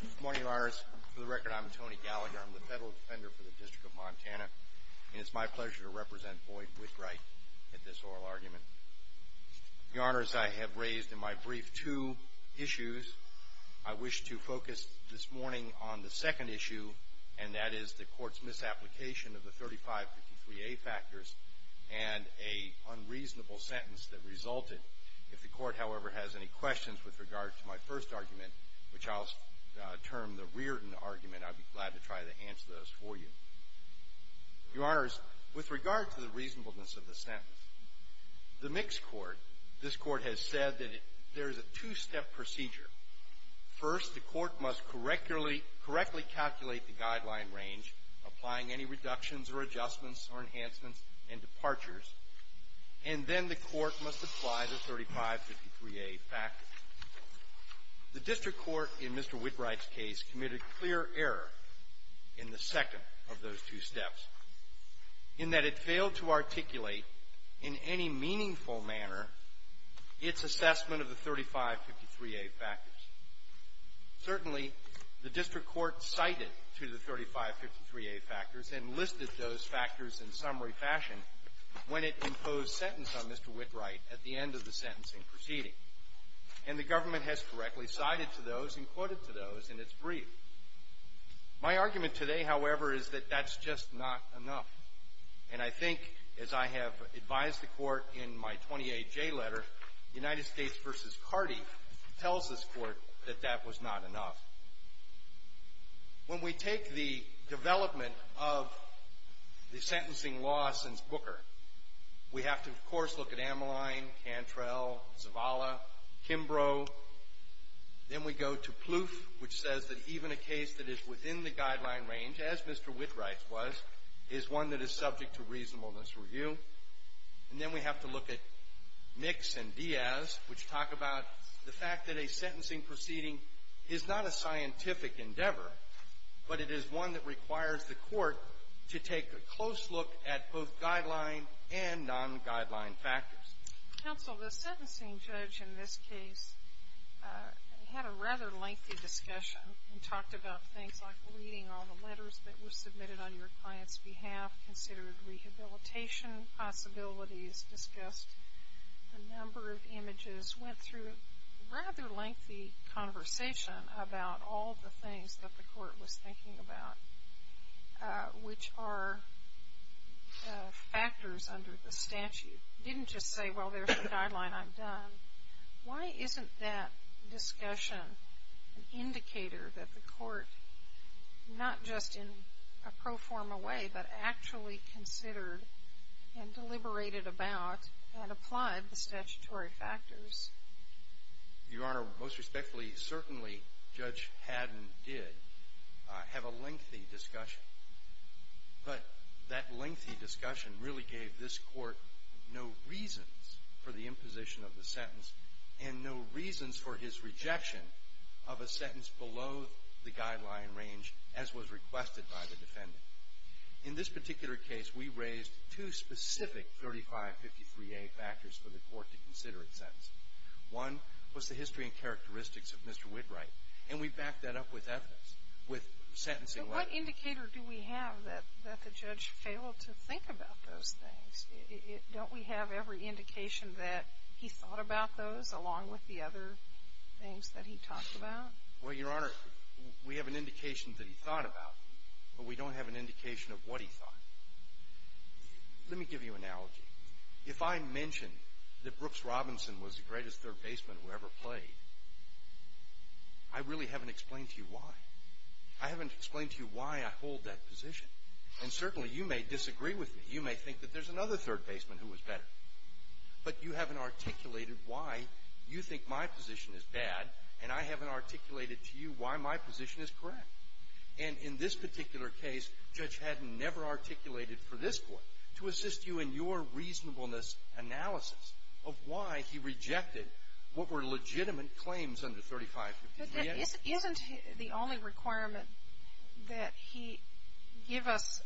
Good morning, lawyers. For the record, I'm Tony Gallagher. I'm the Federal Defender for the District of Montana, and it's my pleasure to represent Boyd Whitwright at this oral argument. Your Honors, I have raised in my brief two issues. I wish to focus this morning on the second issue, and that is the Court's misapplication of the 3553A factors and an unreasonable sentence that resulted. If the Court, however, has any questions with regard to my first argument, which I'll term the Reardon argument, I'd be glad to try to answer those for you. Your Honors, with regard to the reasonableness of the sentence, the mixed court, this Court has said that there is a two-step procedure. First, the Court must correctly calculate the guideline range, applying any reductions or adjustments or enhancements and departures, and then the Court must apply the 3553A factor. The district court in Mr. Whitwright's case committed clear error in the second of those two steps, in that it failed to articulate in any meaningful manner its assessment of the 3553A factors. Certainly, the district court cited to the 3553A factors and listed those factors in summary fashion when it imposed sentence on Mr. Whitwright at the end of the sentencing proceeding. And the government has correctly cited to those and quoted to those in its brief. My argument today, however, is that that's just not enough. And I think, as I have advised the Court in my 28J letter, United States v. Carty tells this Court that that was not enough. When we take the development of the sentencing law since Booker, we have to, of course, look at Ameline, Cantrell, Zavala, Kimbrough. Then we go to Plouffe, which says that even a case that is within the guideline range, as Mr. Whitwright's was, is one that is subject to reasonableness review. And then we have to look at Mix and Diaz, which talk about the fact that a sentencing proceeding is not a scientific endeavor, but it is one that requires the Court to take a close look at both guideline and non-guideline factors. Counsel, the sentencing judge in this case had a rather lengthy discussion and talked about things like reading all the letters that were submitted on your client's behalf, considered rehabilitation possibilities, discussed a number of images, went through a rather lengthy conversation about all the things that the Court was thinking about, which are factors under the statute. You didn't just say, well, there's the guideline I've done. Why isn't that discussion an indicator that the Court, not just in a pro forma way, but actually considered and deliberated about and applied the statutory factors? Your Honor, most respectfully, certainly Judge Haddon did have a lengthy discussion. But that lengthy discussion really gave this Court no reasons for the imposition of the sentence and no reasons for his rejection of a sentence below the guideline range, as was requested by the defendant. In this particular case, we raised two specific 3553A factors for the Court to consider in sentencing. One was the history and characteristics of Mr. Whitwright, and we backed that up with evidence, with sentencing letters. What indicator do we have that the judge failed to think about those things? Don't we have every indication that he thought about those, along with the other things that he talked about? Well, Your Honor, we have an indication that he thought about them, but we don't have an indication of what he thought. Let me give you an analogy. If I mention that Brooks Robinson was the greatest third baseman who ever played, I really haven't explained to you why. I haven't explained to you why I hold that position. And certainly you may disagree with me. You may think that there's another third baseman who was better. But you haven't articulated why you think my position is bad, and I haven't articulated to you why my position is correct. And in this particular case, Judge Haddon never articulated for this Court to assist you in your reasonableness analysis of why he rejected what were legitimate claims under 3553A. Isn't the only requirement that he give us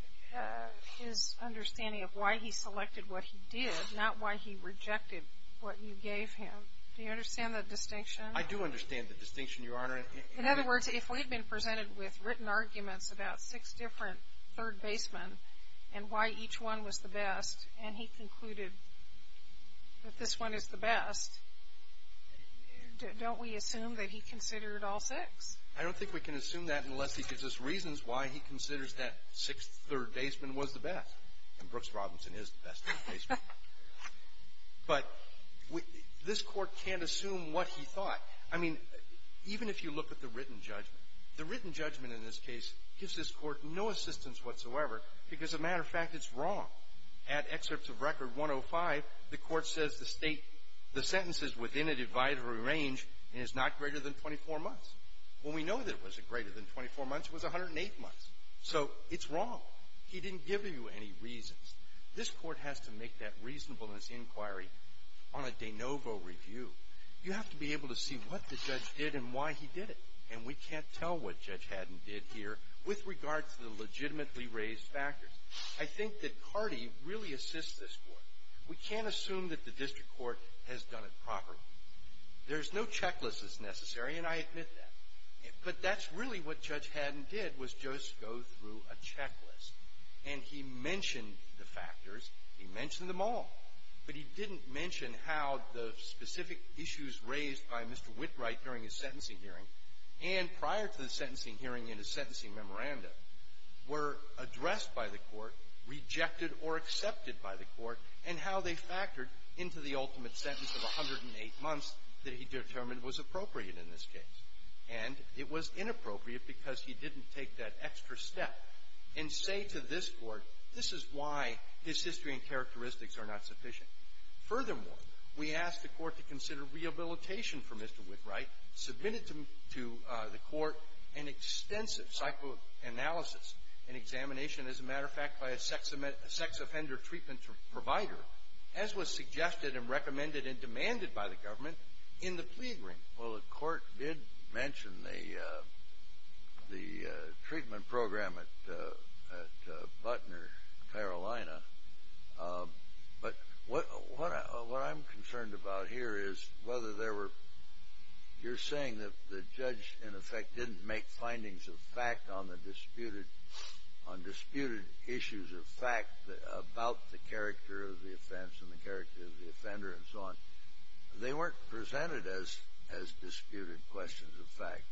his understanding of why he selected what he did, not why he rejected what you gave him? Do you understand the distinction? I do understand the distinction, Your Honor. In other words, if we had been presented with written arguments about six different third basemen and why each one was the best, and he concluded that this one is the best, don't we assume that he considered all six? I don't think we can assume that unless he gives us reasons why he considers that sixth third baseman was the best. And Brooks Robinson is the best third baseman. But this Court can't assume what he thought. I mean, even if you look at the written judgment, the written judgment in this case gives this Court no assistance whatsoever because, as a matter of fact, it's wrong. At excerpts of Record 105, the Court says the sentence is within a divider range and is not greater than 24 months. When we know that it was greater than 24 months, it was 108 months. So it's wrong. He didn't give you any reasons. This Court has to make that reasonableness inquiry on a de novo review. You have to be able to see what the judge did and why he did it. And we can't tell what Judge Haddon did here with regard to the legitimately raised factors. I think that Cardee really assists this Court. We can't assume that the district court has done it properly. There's no checklist that's necessary, and I admit that. But that's really what Judge Haddon did was just go through a checklist. And he mentioned the factors. He mentioned them all. But he didn't mention how the specific issues raised by Mr. Whitwright during his sentencing hearing and prior to the sentencing hearing in his sentencing memorandum were addressed by the Court, rejected or accepted by the Court, and how they factored into the ultimate sentence of 108 months that he determined was appropriate in this case. And it was inappropriate because he didn't take that extra step and say to this Court, this is why his history and characteristics are not sufficient. Furthermore, we asked the Court to consider rehabilitation for Mr. Whitwright, submitted to the Court an extensive psychoanalysis and examination, as a matter of fact, by a sex offender treatment provider, as was suggested and recommended and demanded by the government, in the plea agreement. Well, the Court did mention the treatment program at Butner, Carolina. But what I'm concerned about here is whether there were – you're saying that the judge, in effect, didn't make findings of fact on the disputed – on disputed issues of fact about the character of the offense and the character of the offender and so on. They weren't presented as – as disputed questions of fact,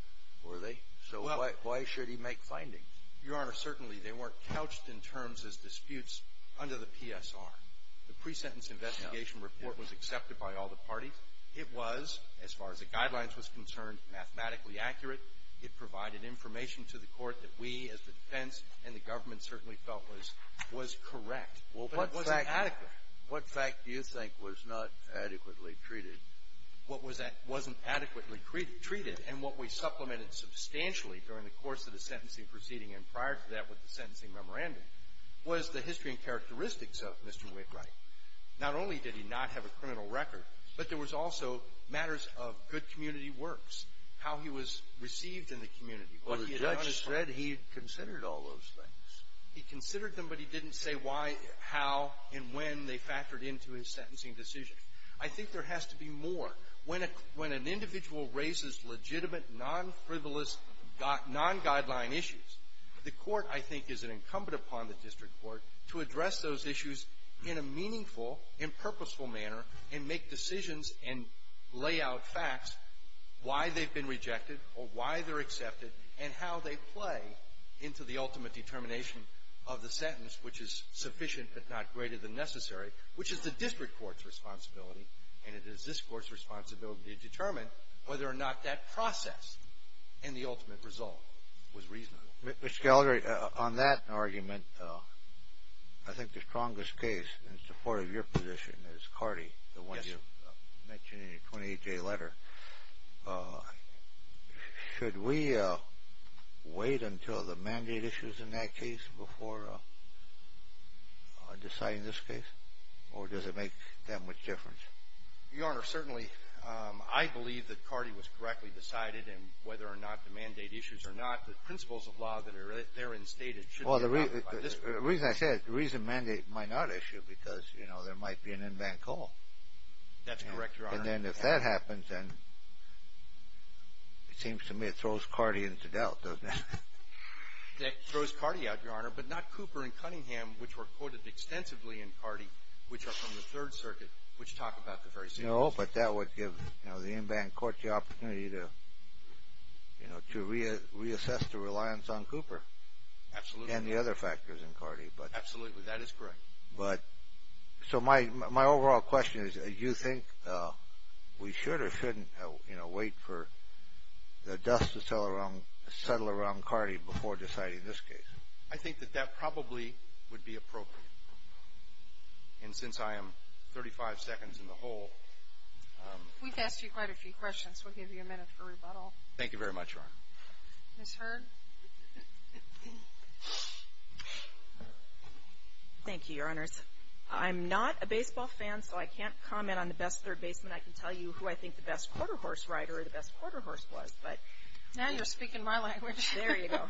were they? So why – why should he make findings? Your Honor, certainly they weren't couched in terms as disputes under the PSR. The pre-sentence investigation report was accepted by all the parties. It was, as far as the guidelines was concerned, mathematically accurate. It provided information to the Court that we, as the defense and the government, certainly felt was – was correct. But it wasn't adequate. What fact do you think was not adequately treated? What was – wasn't adequately treated. And what we supplemented substantially during the course of the sentencing proceeding and prior to that with the sentencing memorandum was the history and characteristics of Mr. Wickwright. Not only did he not have a criminal record, but there was also matters of good community works, how he was received in the community, what he had done. Well, the judge said he had considered all those things. He considered them, but he didn't say why, how, and when they factored into his sentencing decision. I think there has to be more. When a – when an individual raises legitimate, non-frivolous, non-guideline issues, the Court, I think, is incumbent upon the district court to address those issues in a meaningful and purposeful manner and make decisions and lay out facts why they've been rejected or why they're accepted and how they play into the ultimate determination of the sentence, which is sufficient but not greater than necessary, which is the district court's responsibility, and it is this Court's responsibility to determine whether or not that process and the ultimate result was reasonable. Mr. Gallagher, on that argument, I think the strongest case in support of your position is Cardi, the one you mentioned in your 28-day letter. Should we wait until the mandate issues in that case before deciding this case, or does it make that much difference? Your Honor, certainly. I believe that Cardi was correctly decided, and whether or not the mandate issues or not, the principles of law that are therein stated should be – Well, the reason I say it, the reason mandate might not issue because, you know, there might be an in-bank call. That's correct, Your Honor. And then if that happens, then it seems to me it throws Cardi into doubt, doesn't it? It throws Cardi out, Your Honor, but not Cooper and Cunningham, which were quoted extensively in Cardi, which are from the Third Circuit, which talk about the very same thing. No, but that would give the in-bank court the opportunity to reassess the reliance on Cooper. Absolutely. And the other factors in Cardi. Absolutely. That is correct. So my overall question is, do you think we should or shouldn't, you know, wait for the dust to settle around Cardi before deciding this case? I think that that probably would be appropriate. And since I am 35 seconds in the hole. We've asked you quite a few questions. We'll give you a minute for rebuttal. Thank you very much, Your Honor. Ms. Hurd? Thank you, Your Honors. I'm not a baseball fan, so I can't comment on the best third baseman. I can tell you who I think the best quarterhorse rider or the best quarterhorse was, but. Now you're speaking my language. There you go.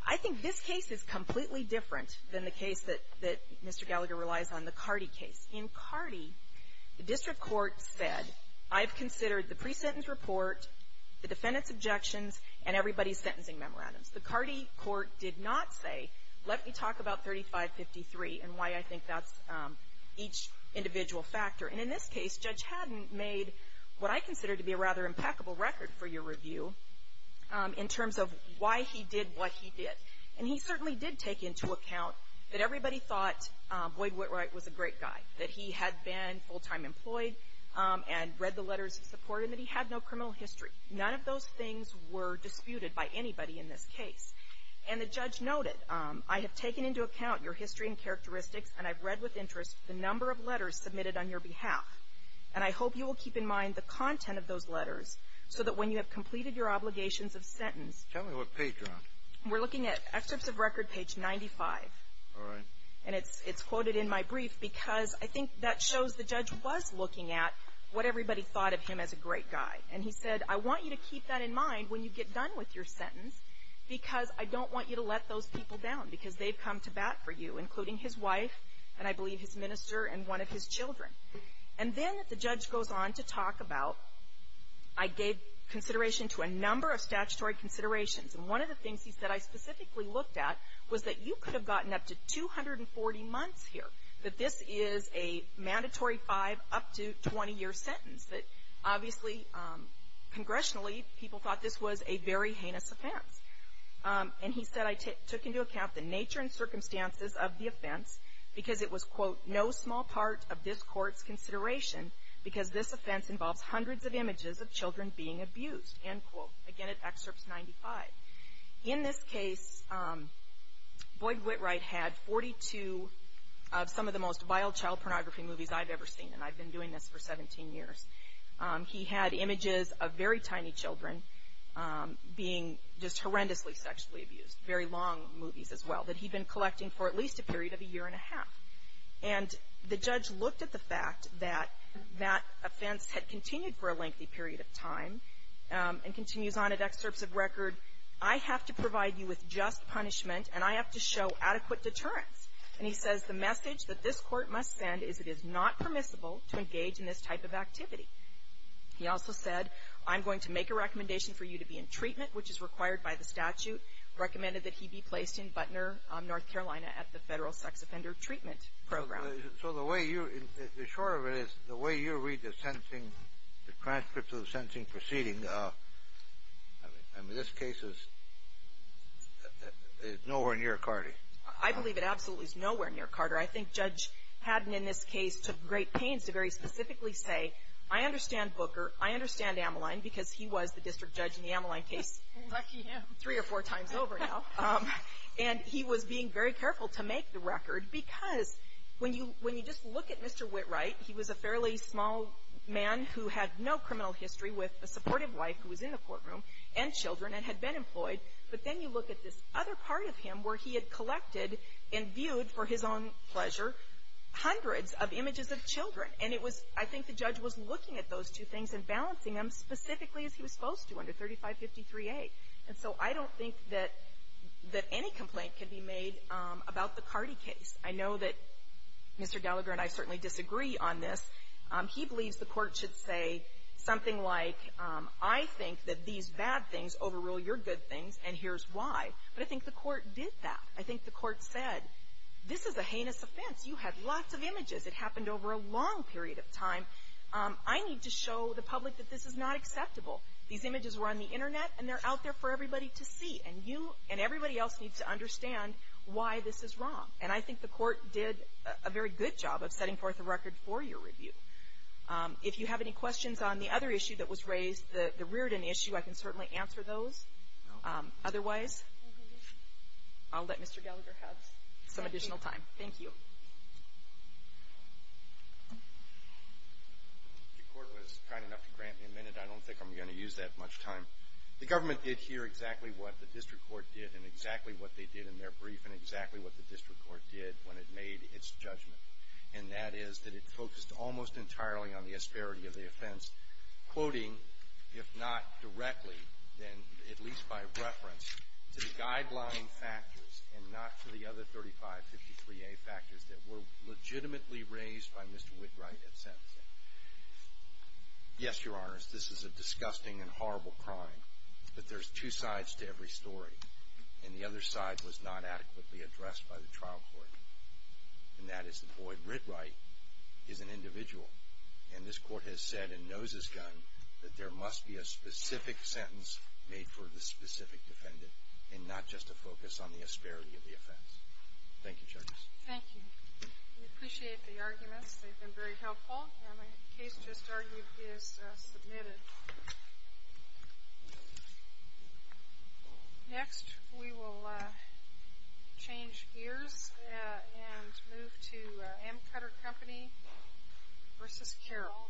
I think this case is completely different than the case that Mr. Gallagher relies on, the Cardi case. In Cardi, the district court said, I've considered the pre-sentence report, the defendant's objections, and everybody's sentencing memorandums. The Cardi court did not say, let me talk about 3553 and why I think that's each individual factor. And in this case, Judge Haddon made what I consider to be a rather impeccable record for your review, in terms of why he did what he did. And he certainly did take into account that everybody thought Boyd Whitwright was a great guy, that he had been full-time employed and read the letters of support, and that he had no criminal history. None of those things were disputed by anybody in this case. And the judge noted, I have taken into account your history and characteristics, and I've read with interest the number of letters submitted on your behalf. And I hope you will keep in mind the content of those letters, so that when you have completed your obligations of sentence. Tell me what page you're on. We're looking at excerpts of record page 95. All right. And it's quoted in my brief, because I think that shows the judge was looking at what everybody thought of him as a great guy. And he said, I want you to keep that in mind when you get done with your sentence, because I don't want you to let those people down, because they've come to bat for you, including his wife, and I believe his minister, and one of his children. And then the judge goes on to talk about, I gave consideration to a number of statutory considerations. And one of the things he said I specifically looked at was that you could have gotten up to 240 months here, that this is a mandatory five-up-to-20-year sentence. But obviously, congressionally, people thought this was a very heinous offense. And he said I took into account the nature and circumstances of the offense, because it was, quote, no small part of this court's consideration, because this offense involves hundreds of images of children being abused, end quote. Again, at excerpt 95. In this case, Boyd Whitright had 42 of some of the most vile child pornography movies I've ever seen, and I've been doing this for 17 years. He had images of very tiny children being just horrendously sexually abused, very long movies as well, that he'd been collecting for at least a period of a year and a half. And the judge looked at the fact that that offense had continued for a lengthy period of time and continues on in excerpts of record, I have to provide you with just punishment, and I have to show adequate deterrence. And he says the message that this court must send is it is not permissible to engage in this type of activity. He also said, I'm going to make a recommendation for you to be in treatment, which is required by the statute, recommended that he be placed in Butner, North Carolina, at the Federal Sex Offender Treatment Program. So the way you, the short of it is the way you read the sentencing, the transcripts of the sentencing proceeding, I mean, this case is nowhere near Carty. I believe it absolutely is nowhere near Carter. I think Judge Haddon in this case took great pains to very specifically say, I understand Booker, I understand Ameline, because he was the district judge in the Ameline case. Lucky him. Three or four times over now. And he was being very careful to make the record, because when you, when you just look at Mr. Whitwright, he was a fairly small man who had no criminal history with a supportive wife who was in the courtroom and children and had been employed. But then you look at this other part of him where he had collected and viewed for his own pleasure hundreds of images of children. And it was, I think the judge was looking at those two things and balancing them specifically as he was supposed to under 3553A. And so I don't think that any complaint can be made about the Carty case. I know that Mr. Gallagher and I certainly disagree on this. He believes the Court should say something like, I think that these bad things overrule your good things, and here's why. But I think the Court did that. I think the Court said, this is a heinous offense. You had lots of images. It happened over a long period of time. I need to show the public that this is not acceptable. These images were on the Internet, and they're out there for everybody to see. And you and everybody else needs to understand why this is wrong. And I think the Court did a very good job of setting forth a record for your review. If you have any questions on the other issue that was raised, the Reardon issue, I can certainly answer those. Otherwise, I'll let Mr. Gallagher have some additional time. Thank you. The Court was kind enough to grant me a minute. I don't think I'm going to use that much time. The government did hear exactly what the district court did and exactly what they did in their brief and exactly what the district court did when it made its judgment, and that is that it focused almost entirely on the asperity of the offense, quoting, if not directly, then at least by reference, to the guideline factors and not to the other 3553A factors that were legitimately raised by Mr. Whitwright at sentencing. Yes, Your Honors, this is a disgusting and horrible crime, but there's two sides to every story. And the other side was not adequately addressed by the trial court, and that is that Boyd Whitwright is an individual. And this Court has said in Nose's Gun that there must be a specific sentence made for the specific defendant and not just a focus on the asperity of the offense. Thank you, Judge. Thank you. We appreciate the arguments. They've been very helpful, and the case just argued is submitted. Next, we will change gears and move to Amcutter Company v. Carroll.